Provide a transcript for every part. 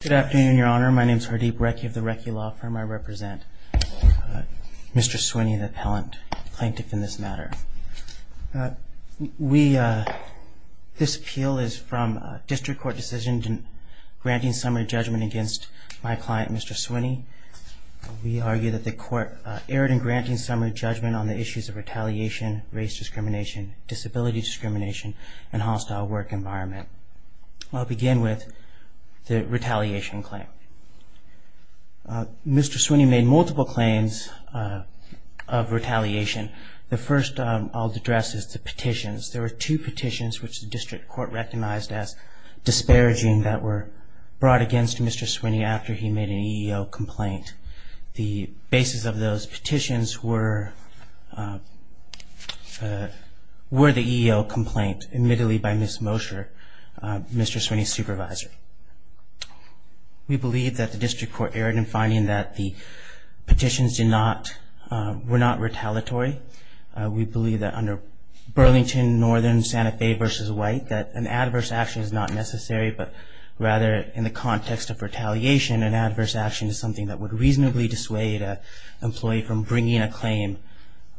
Good afternoon, Your Honor. My name is Hardeep Rekhi of the Rekhi Law Firm. I represent Mr. Swinnie, the appellant, plaintiff in this matter. This appeal is from a district court decision granting summary judgment against my client, Mr. Swinnie. We argue that the court erred in granting summary judgment on the issues of retaliation, race discrimination, disability discrimination, and hostile work environment. I'll begin with the retaliation claim. Mr. Swinnie made multiple claims of retaliation. The first I'll address is the petitions. There were two petitions which the district court recognized as disparaging that were brought against Mr. Swinnie after he made an EEO complaint. The basis of those petitions were the EEO complaint admittedly by Ms. Mosher, Mr. Swinnie's supervisor. We believe that the district court erred in finding that the petitions were not retaliatory. We believe that under Burlington, Northern, Santa Fe v. White that an adverse action is not necessary, but rather in the context of retaliation, an adverse action is something that would reasonably dissuade an employee from bringing a claim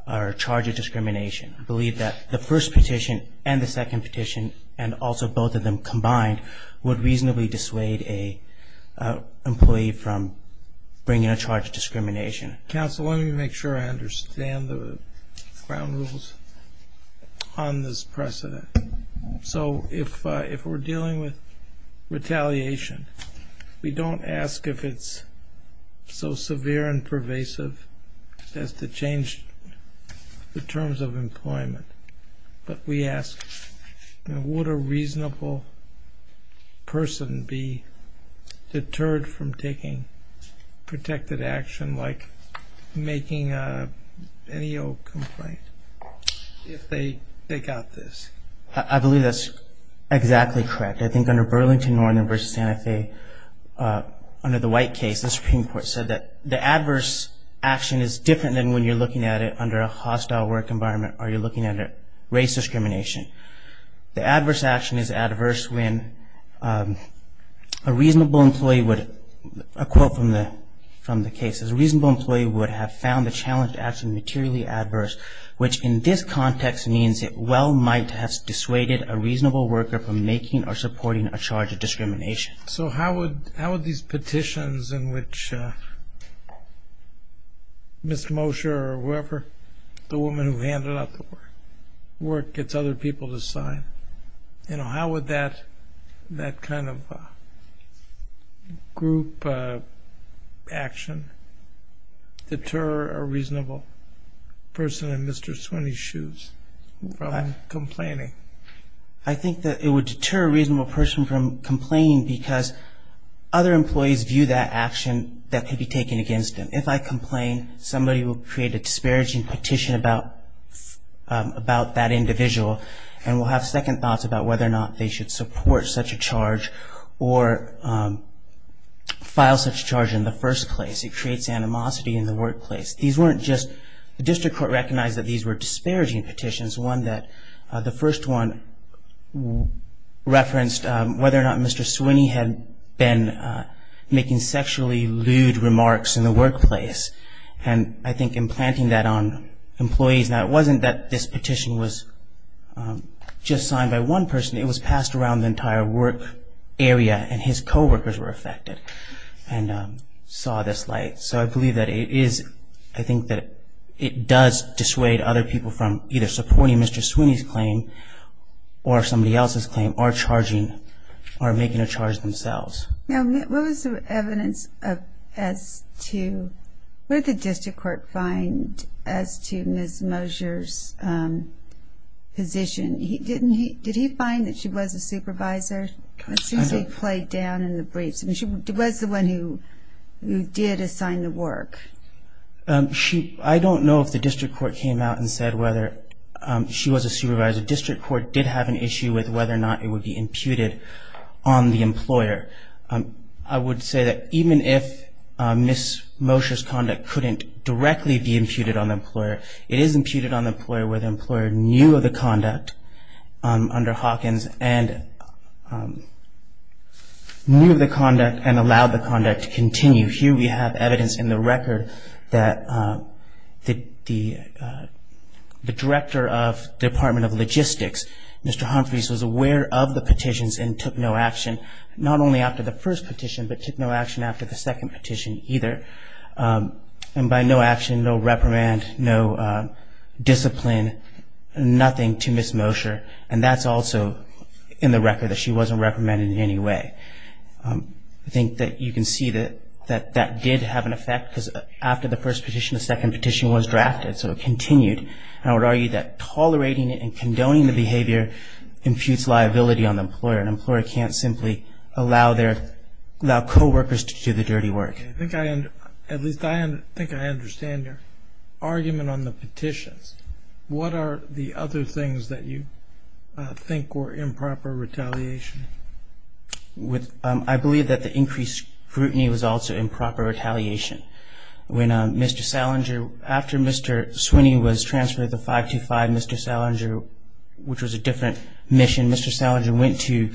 or charge of discrimination. We believe that the first petition and the second petition, and also both of them combined, would reasonably dissuade an employee from bringing a charge of discrimination. Counsel, let me make sure I understand the ground rules on this precedent. So if we're dealing with retaliation, we don't ask if it's so severe and pervasive as to change the terms of employment, but we ask would a reasonable person be deterred from taking protected action like making an EEO complaint if they got this? I believe that's exactly correct. I think under Burlington, Northern v. Santa Fe, under the White case, the Supreme Court said that the adverse action is different than when you're looking at it under a hostile work environment or you're looking at it under race discrimination. The adverse action is adverse when a reasonable employee would, a quote from the case, is a reasonable employee would have found the challenged action materially adverse, which in this context means it well might have dissuaded a reasonable worker from making or supporting a charge of discrimination. So how would these petitions in which Ms. Mosher or whoever, the woman who handed out the work, gets other people to sign, how would that kind of group action deter a reasonable person in Mr. Swinney's shoes from complaining? I think that it would deter a reasonable person from complaining because other employees view that action that could be taken against them. If I complain, somebody will create a disparaging petition about that individual and will have second thoughts about whether or not they should support such a charge or file such a charge in the first place. It creates animosity in the workplace. These weren't just, the district court recognized that these were disparaging petitions, one that the first one referenced whether or not Mr. Swinney had been making sexually lewd remarks in the workplace and I think implanting that on employees. Now it wasn't that this petition was just signed by one person. It was passed around the entire work area and his coworkers were affected and saw this light. So I believe that it is, I think that it does dissuade other people from either supporting Mr. Swinney's claim or somebody else's claim or charging or making a charge themselves. What was the evidence as to, what did the district court find as to Ms. Mosher's position? Did he find that she was a supervisor? She played down in the briefs. She was the one who did assign the work. I don't know if the district court came out and said whether she was a supervisor. The district court did have an issue with whether or not it would be imputed on the employer. I would say that even if Ms. Mosher's conduct couldn't directly be imputed on the employer, it is imputed on the employer where the employer knew of the conduct under Hawkins and knew of the conduct and allowed the conduct to continue. Here we have evidence in the record that the director of the Department of Logistics, Mr. Humphreys, was aware of the petitions and took no action, not only after the first petition, but took no action after the second petition either. And by no action, no reprimand, no discipline, nothing to Ms. Mosher. And that's also in the record that she wasn't reprimanded in any way. I think that you can see that that did have an effect because after the first petition, the second petition was drafted, so it continued. And I would argue that tolerating it and condoning the behavior imputes liability on the employer. An employer can't simply allow their coworkers to do the dirty work. At least I think I understand your argument on the petitions. What are the other things that you think were improper retaliation? I believe that the increased scrutiny was also improper retaliation. When Mr. Salinger, after Mr. Sweeney was transferred to 525, Mr. Salinger, which was a different mission, Mr. Salinger went to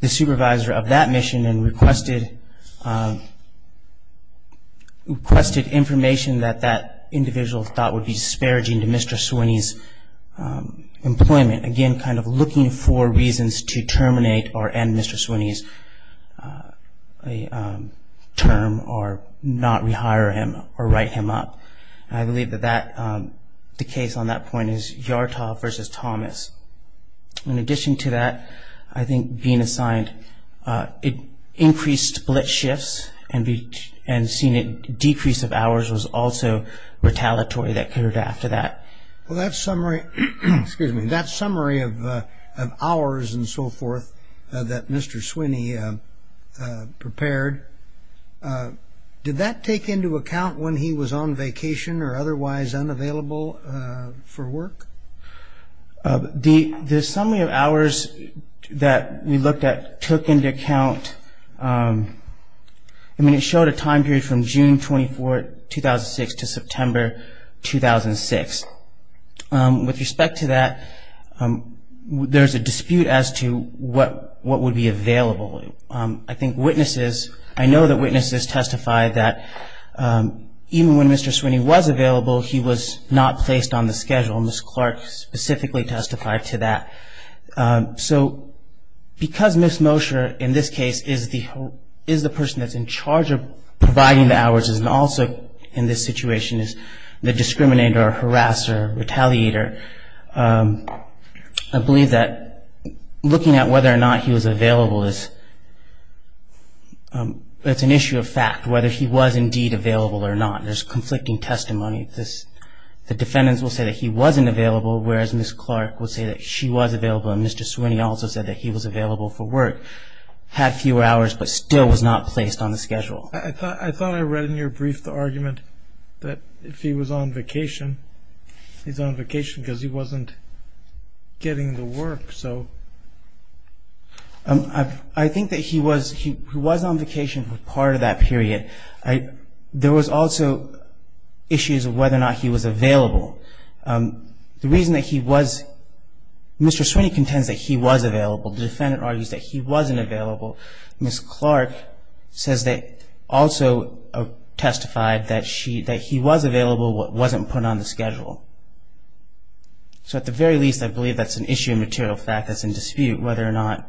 the supervisor of that mission and requested information that that individual thought would be disparaging to Mr. Sweeney's employment. Again, kind of looking for reasons to terminate or end Mr. Sweeney's term or not rehire him or write him up. And I believe that the case on that point is Yartoff v. Thomas. In addition to that, I think being assigned increased blitz shifts and seeing a decrease of hours was also retaliatory that occurred after that. Well, that summary of hours and so forth that Mr. Sweeney prepared, did that take into account when he was on vacation or otherwise unavailable for work? The summary of hours that we looked at took into account, I mean, it showed a time period from June 24, 2006 to September 2006. With respect to that, there's a dispute as to what would be available. I think witnesses, I know that witnesses testified that even when Mr. Sweeney was available, he was not placed on the schedule. Ms. Clark specifically testified to that. So because Ms. Mosher in this case is the person that's in charge of providing the hours and also in this situation is the discriminator or harasser or retaliator, I believe that looking at whether or not he was available is an issue of fact, whether he was indeed available or not. There's conflicting testimony. The defendants will say that he wasn't available, whereas Ms. Clark would say that she was available and Mr. Sweeney also said that he was available for work, had fewer hours, but still was not placed on the schedule. I thought I read in your brief the argument that if he was on vacation, he's on vacation because he wasn't getting the work. I think that he was on vacation for part of that period. There was also issues of whether or not he was available. The reason that he was, Mr. Sweeney contends that he was available. The defendant argues that he wasn't available. Ms. Clark says that also testified that he was available but wasn't put on the schedule. So at the very least, I believe that's an issue of material fact that's in dispute, whether or not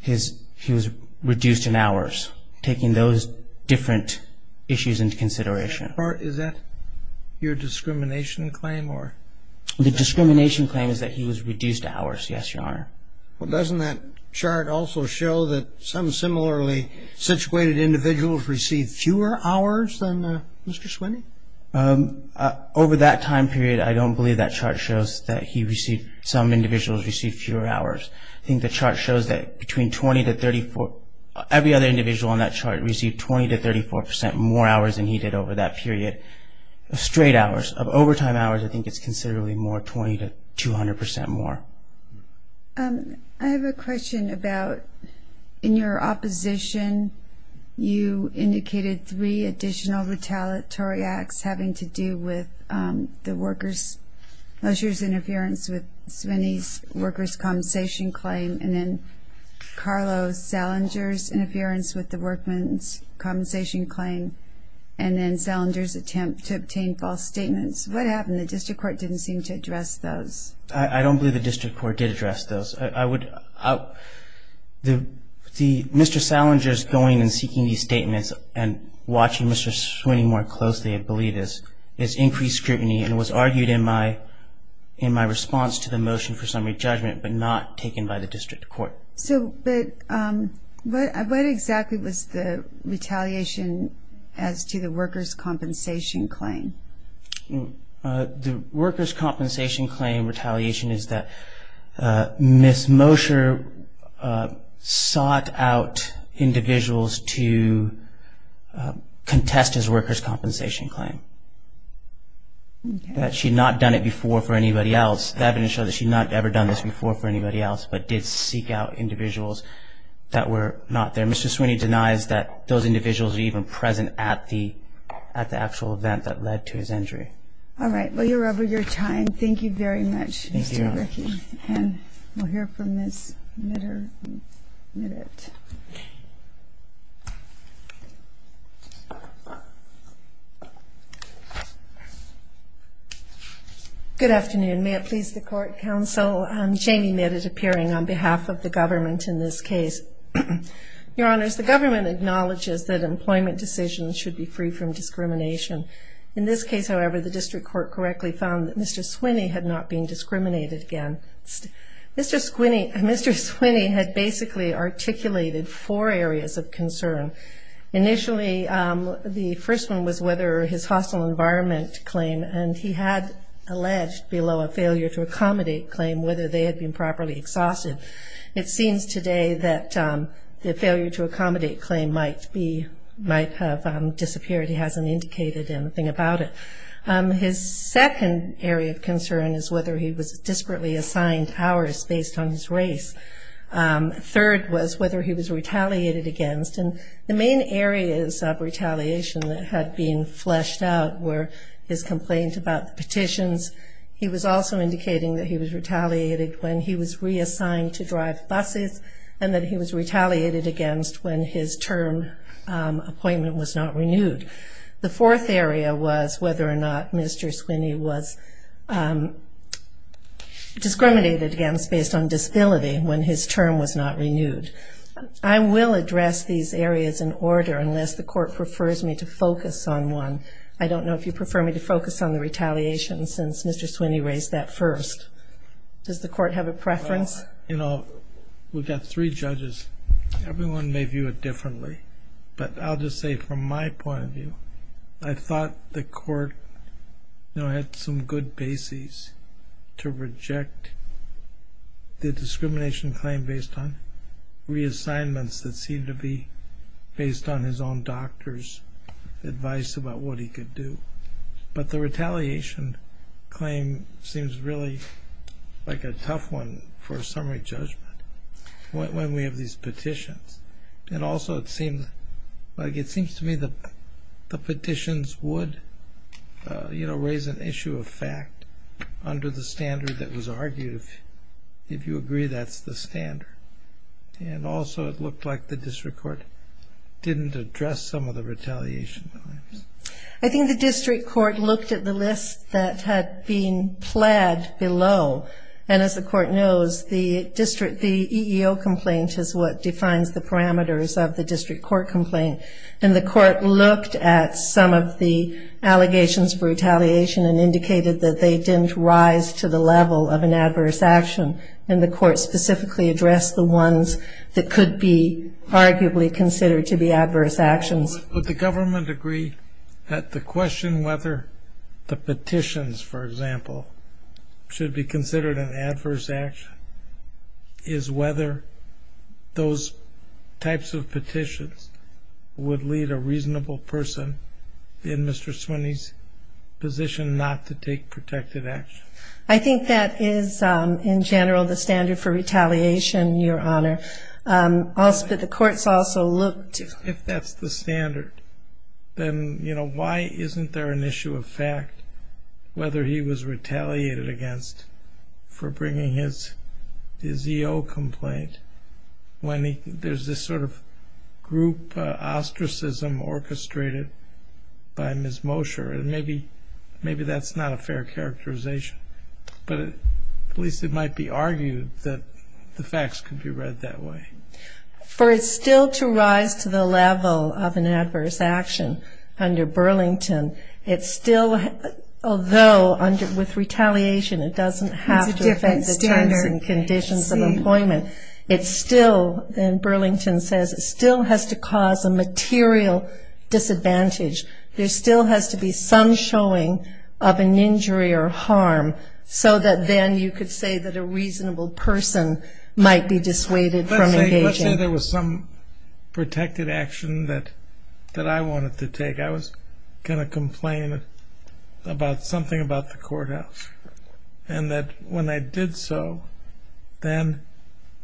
he was reduced in hours, taking those different issues into consideration. Is that your discrimination claim? The discrimination claim is that he was reduced hours, yes, Your Honor. Well, doesn't that chart also show that some similarly situated individuals received fewer hours than Mr. Sweeney? Over that time period, I don't believe that chart shows that some individuals received fewer hours. I think the chart shows that every other individual on that chart received 20% to 34% more hours than he did over that period of straight hours. Of overtime hours, I think it's considerably more, 20% to 200% more. I have a question about in your opposition, you indicated three additional retaliatory acts having to do with the workers' interference with Sweeney's workers' compensation claim and then Carlo Salinger's interference with the workmen's compensation claim and then Salinger's attempt to obtain false statements. What happened? The district court didn't seem to address those. I don't believe the district court did address those. Mr. Salinger's going and seeking these statements and watching Mr. Sweeney more closely, I believe, is increased scrutiny and was argued in my response to the motion for summary judgment but not taken by the district court. But what exactly was the retaliation as to the workers' compensation claim? The workers' compensation claim retaliation is that Ms. Mosher sought out individuals to contest his workers' compensation claim, that she had not done it before for anybody else. The evidence shows that she had not ever done this before for anybody else but did seek out individuals that were not there. Mr. Sweeney denies that those individuals were even present at the actual event that led to his injury. All right. Well, you're over your time. Thank you very much, Mr. Rickey. Thank you, Your Honor. And we'll hear from Ms. Mitterman in a minute. Good afternoon. May it please the Court, Counsel. Jamie Mitt is appearing on behalf of the government in this case. Your Honors, the government acknowledges that employment decisions should be free from discrimination. In this case, however, the district court correctly found that Mr. Sweeney had not been discriminated against. Mr. Sweeney had basically articulated four areas of concern. Initially, the first one was whether his hostile environment claim, and he had alleged below a failure to accommodate claim whether they had been properly exhausted. It seems today that the failure to accommodate claim might have disappeared. He hasn't indicated anything about it. His second area of concern is whether he was disparately assigned hours based on his race. Third was whether he was retaliated against. And the main areas of retaliation that had been fleshed out were his complaint about the petitions. He was also indicating that he was retaliated when he was reassigned to drive buses and that he was retaliated against when his term appointment was not renewed. The fourth area was whether or not Mr. Sweeney was discriminated against based on disability when his term was not renewed. I will address these areas in order unless the court prefers me to focus on one. I don't know if you prefer me to focus on the retaliation since Mr. Sweeney raised that first. Does the court have a preference? You know, we've got three judges. Everyone may view it differently. But I'll just say from my point of view, I thought the court had some good basis to reject the discrimination claim based on reassignments that seemed to be based on his own doctor's advice about what he could do. But the retaliation claim seems really like a tough one for a summary judgment when we have these petitions. And also, it seems to me that the petitions would raise an issue of fact under the standard that was argued. If you agree, that's the standard. And also, it looked like the district court didn't address some of the retaliation claims. I think the district court looked at the list that had been plaid below. And as the court knows, the EEO complaint is what defines the parameters of the district court complaint. And the court looked at some of the allegations for retaliation and indicated that they didn't rise to the level of an adverse action. And the court specifically addressed the ones that could be arguably considered to be adverse actions. Would the government agree that the question whether the petitions, for example, should be considered an adverse action is whether those types of petitions would lead a reasonable person in Mr. Swinney's position not to take protective action? I think that is, in general, the standard for retaliation, Your Honor. But the courts also looked to... If that's the standard, then, you know, why isn't there an issue of fact whether he was retaliated against for bringing his EEO complaint when there's this sort of group ostracism orchestrated by Ms. Mosher? And maybe that's not a fair characterization. But at least it might be argued that the facts could be read that way. For it still to rise to the level of an adverse action under Burlington, it still, although with retaliation it doesn't have to affect the terms and conditions of employment, it still, and Burlington says, it still has to cause a material disadvantage. There still has to be some showing of an injury or harm so that then you could say that a reasonable person might be dissuaded from engaging. Let's say there was some protected action that I wanted to take. I was going to complain about something about the courthouse. And that when I did so, then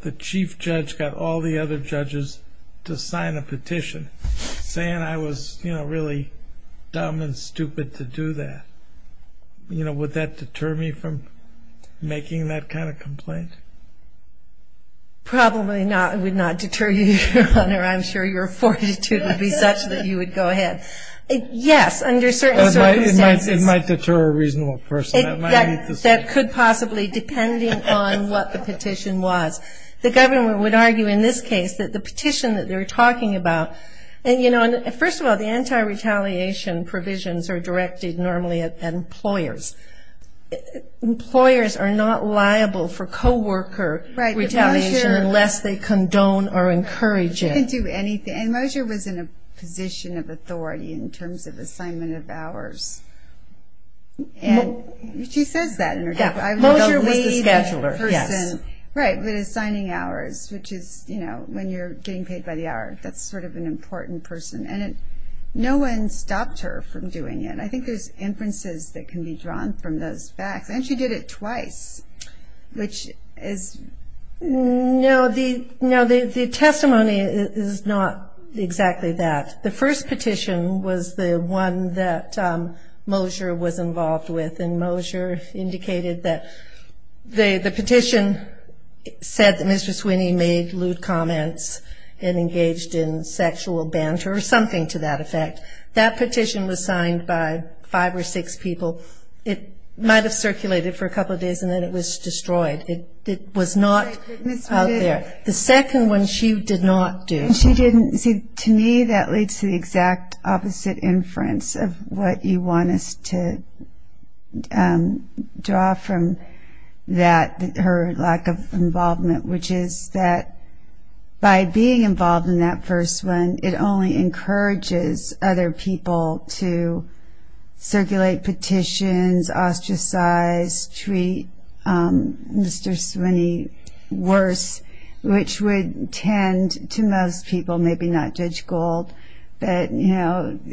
the chief judge got all the other judges to sign a petition saying I was, you know, really dumb and stupid to do that. You know, would that deter me from making that kind of complaint? Probably not. It would not deter you, Your Honor. I'm sure your fortitude would be such that you would go ahead. Yes, under certain circumstances. It might deter a reasonable person. That could possibly, depending on what the petition was. The government would argue in this case that the petition that they're talking about, you know, first of all, the anti-retaliation provisions are directed normally at employers. Employers are not liable for co-worker retaliation unless they condone or encourage it. They can do anything. And Mosier was in a position of authority in terms of assignment of hours. She says that in her case. Mosier was the scheduler. Right, but assigning hours, which is, you know, when you're getting paid by the hour. That's sort of an important person. And no one stopped her from doing it. I think there's inferences that can be drawn from those facts. And she did it twice, which is... No, the testimony is not exactly that. The first petition was the one that Mosier was involved with. And Mosier indicated that the petition said that Mr. Sweeney made lewd comments and engaged in sexual banter or something to that effect. That petition was signed by five or six people. It might have circulated for a couple of days, and then it was destroyed. It was not out there. The second one she did not do. To me, that leads to the exact opposite inference of what you want us to draw from that, her lack of involvement, which is that by being involved in that first one, it only encourages other people to circulate petitions, ostracize, treat Mr. Sweeney worse, which would tend to most people, maybe not Judge Gold, that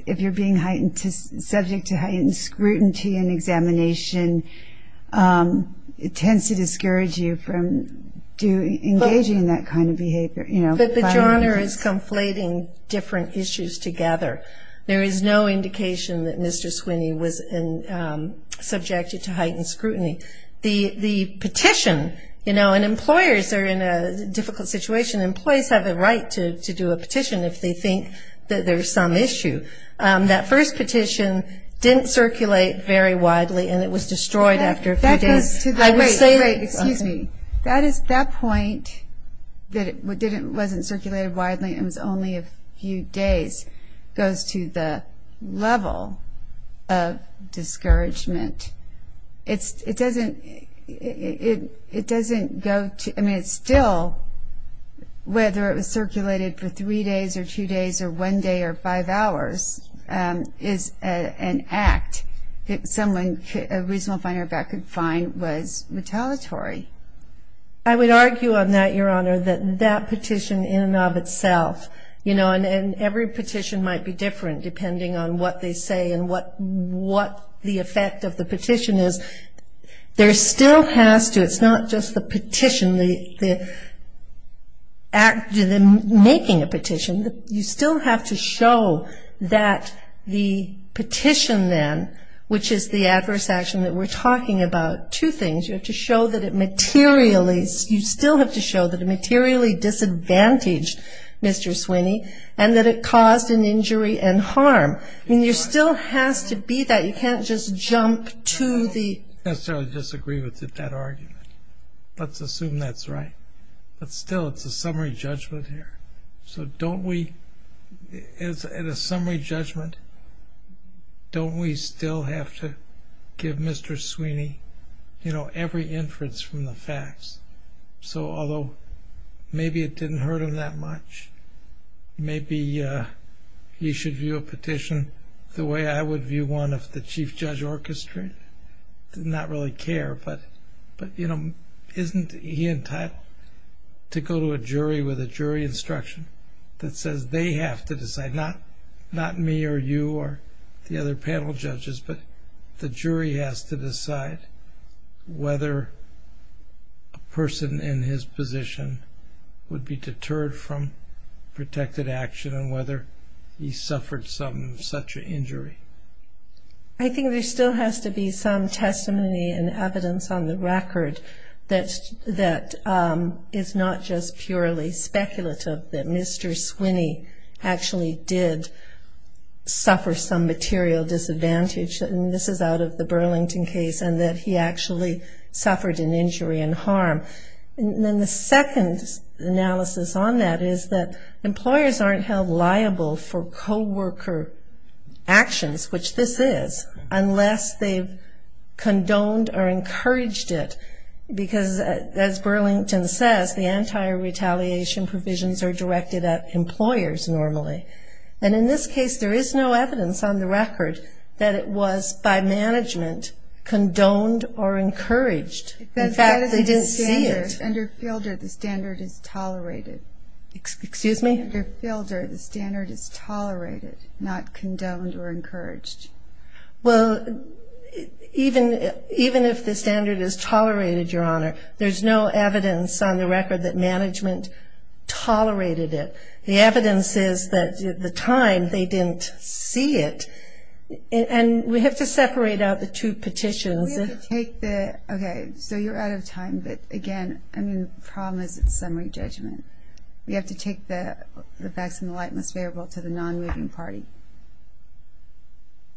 if you're being subject to heightened scrutiny and examination, it tends to discourage you from engaging in that kind of behavior. But the genre is conflating different issues together. There is no indication that Mr. Sweeney was subjected to heightened scrutiny. The petition, you know, and employers are in a difficult situation. Employees have a right to do a petition if they think that there's some issue. That first petition didn't circulate very widely, and it was destroyed after a few days. That goes to the point that it wasn't circulated widely, it was only a few days, goes to the level of discouragement. It doesn't go to, I mean, it's still, whether it was circulated for three days or two days or one day or five hours, is an act that someone, a reasonable finder of that, could find was retaliatory. I would argue on that, Your Honor, that that petition in and of itself, you know, and every petition might be different depending on what they say and what the effect of the petition is. There still has to, it's not just the petition, the making a petition. You still have to show that the petition then, which is the adverse action that we're talking about, two things. You have to show that it materially, you still have to show that it materially disadvantaged Mr. Sweeney and that it caused an injury and harm. I mean, there still has to be that. You can't just jump to the... I don't necessarily disagree with that argument. Let's assume that's right. But still, it's a summary judgment here. So don't we, in a summary judgment, don't we still have to give Mr. Sweeney, you know, every inference from the facts? So although maybe it didn't hurt him that much, maybe he should view a petition the way I would view one of the Chief Judge Orchestra. I do not really care. But, you know, isn't he entitled to go to a jury with a jury instruction that says they have to decide, not me or you or the other panel judges, but the jury has to decide whether a person in his position would be deterred from protected action and whether he suffered such an injury. I think there still has to be some testimony and evidence on the record that is not just purely speculative, that Mr. Sweeney actually did suffer some material disadvantage, and this is out of the Burlington case, and that he actually suffered an injury and harm. And then the second analysis on that is that employers aren't held liable for co-worker actions, which this is, unless they've condoned or encouraged it, because as Burlington says, the anti-retaliation provisions are directed at employers normally. And in this case, there is no evidence on the record that it was by management condoned or encouraged. In fact, they didn't see it. Under Fielder, the standard is tolerated. Excuse me? Under Fielder, the standard is tolerated, not condoned or encouraged. Well, even if the standard is tolerated, Your Honor, there's no evidence on the record that management tolerated it. The evidence is that at the time, they didn't see it. And we have to separate out the two petitions. Okay, so you're out of time, but again, the problem is it's summary judgment. We have to take the facts and the light in this variable to the non-moving party.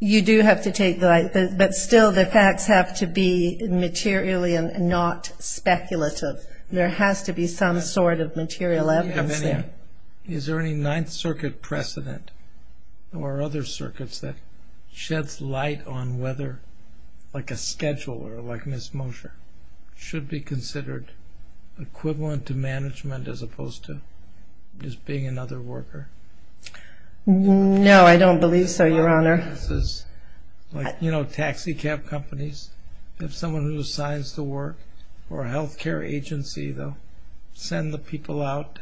You do have to take the light, but still the facts have to be materially and not speculative. There has to be some sort of material evidence there. Is there any Ninth Circuit precedent or other circuits that sheds light on whether, like a schedule or like Ms. Mosher, should be considered equivalent to management as opposed to just being another worker? No, I don't believe so, Your Honor. Like, you know, taxi cab companies. If someone who assigns to work for a health care agency, they'll send the people out.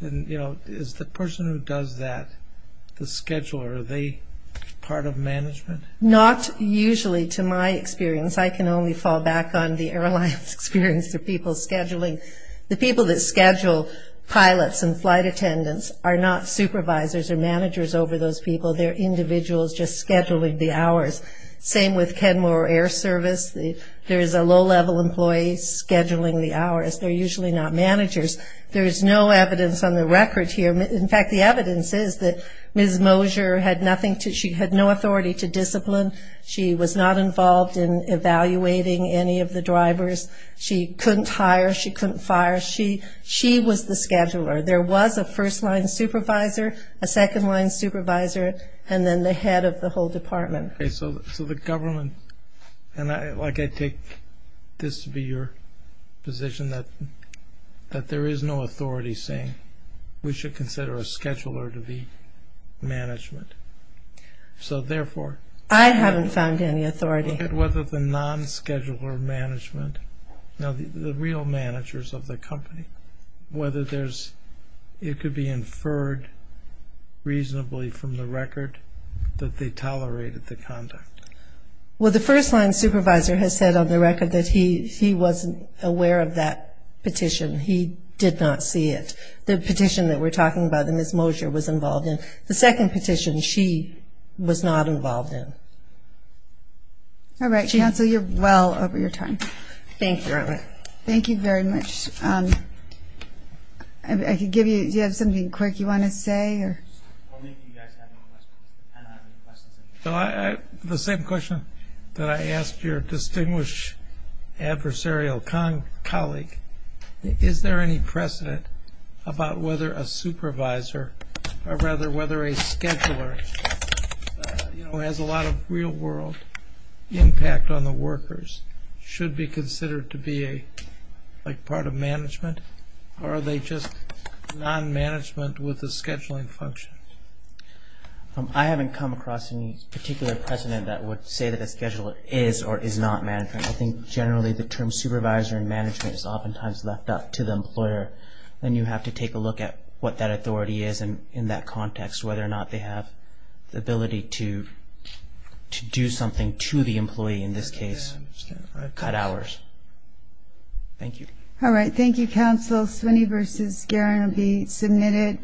And, you know, is the person who does that the scheduler? Are they part of management? Not usually, to my experience. I can only fall back on the airlines experience, the people scheduling. The people that schedule pilots and flight attendants are not supervisors or managers over those people. They're individuals just scheduling the hours. Same with Kenmore Air Service. There is a low-level employee scheduling the hours. They're usually not managers. There is no evidence on the record here. In fact, the evidence is that Ms. Mosher had no authority to discipline. She was not involved in evaluating any of the drivers. She couldn't hire. She couldn't fire. She was the scheduler. There was a first-line supervisor, a second-line supervisor, and then the head of the whole department. So the government, and I take this to be your position, that there is no authority saying we should consider a scheduler to be management. So, therefore, look at whether the non-scheduler management, the real managers of the company, whether it could be inferred reasonably from the record that they tolerated the conduct. Well, the first-line supervisor has said on the record that he wasn't aware of that petition. He did not see it. The petition that we're talking about that Ms. Mosher was involved in, the second petition she was not involved in. All right, Chancellor, you're well over your time. Thank you. Thank you very much. Do you have something quick you want to say? The same question that I asked your distinguished adversarial colleague, is there any precedent about whether a supervisor, or rather whether a scheduler who has a lot of real-world impact on the workers should be considered to be a part of management, or are they just non-management with a scheduling function? I haven't come across any particular precedent that would say that a scheduler is or is not management. I think generally the term supervisor and management is oftentimes left up to the employer, and you have to take a look at what that authority is in that context, whether or not they have the ability to do something to the employee. In this case, cut hours. Thank you. All right. Thank you, Counsel. Sweeney v. Guerin will be submitted.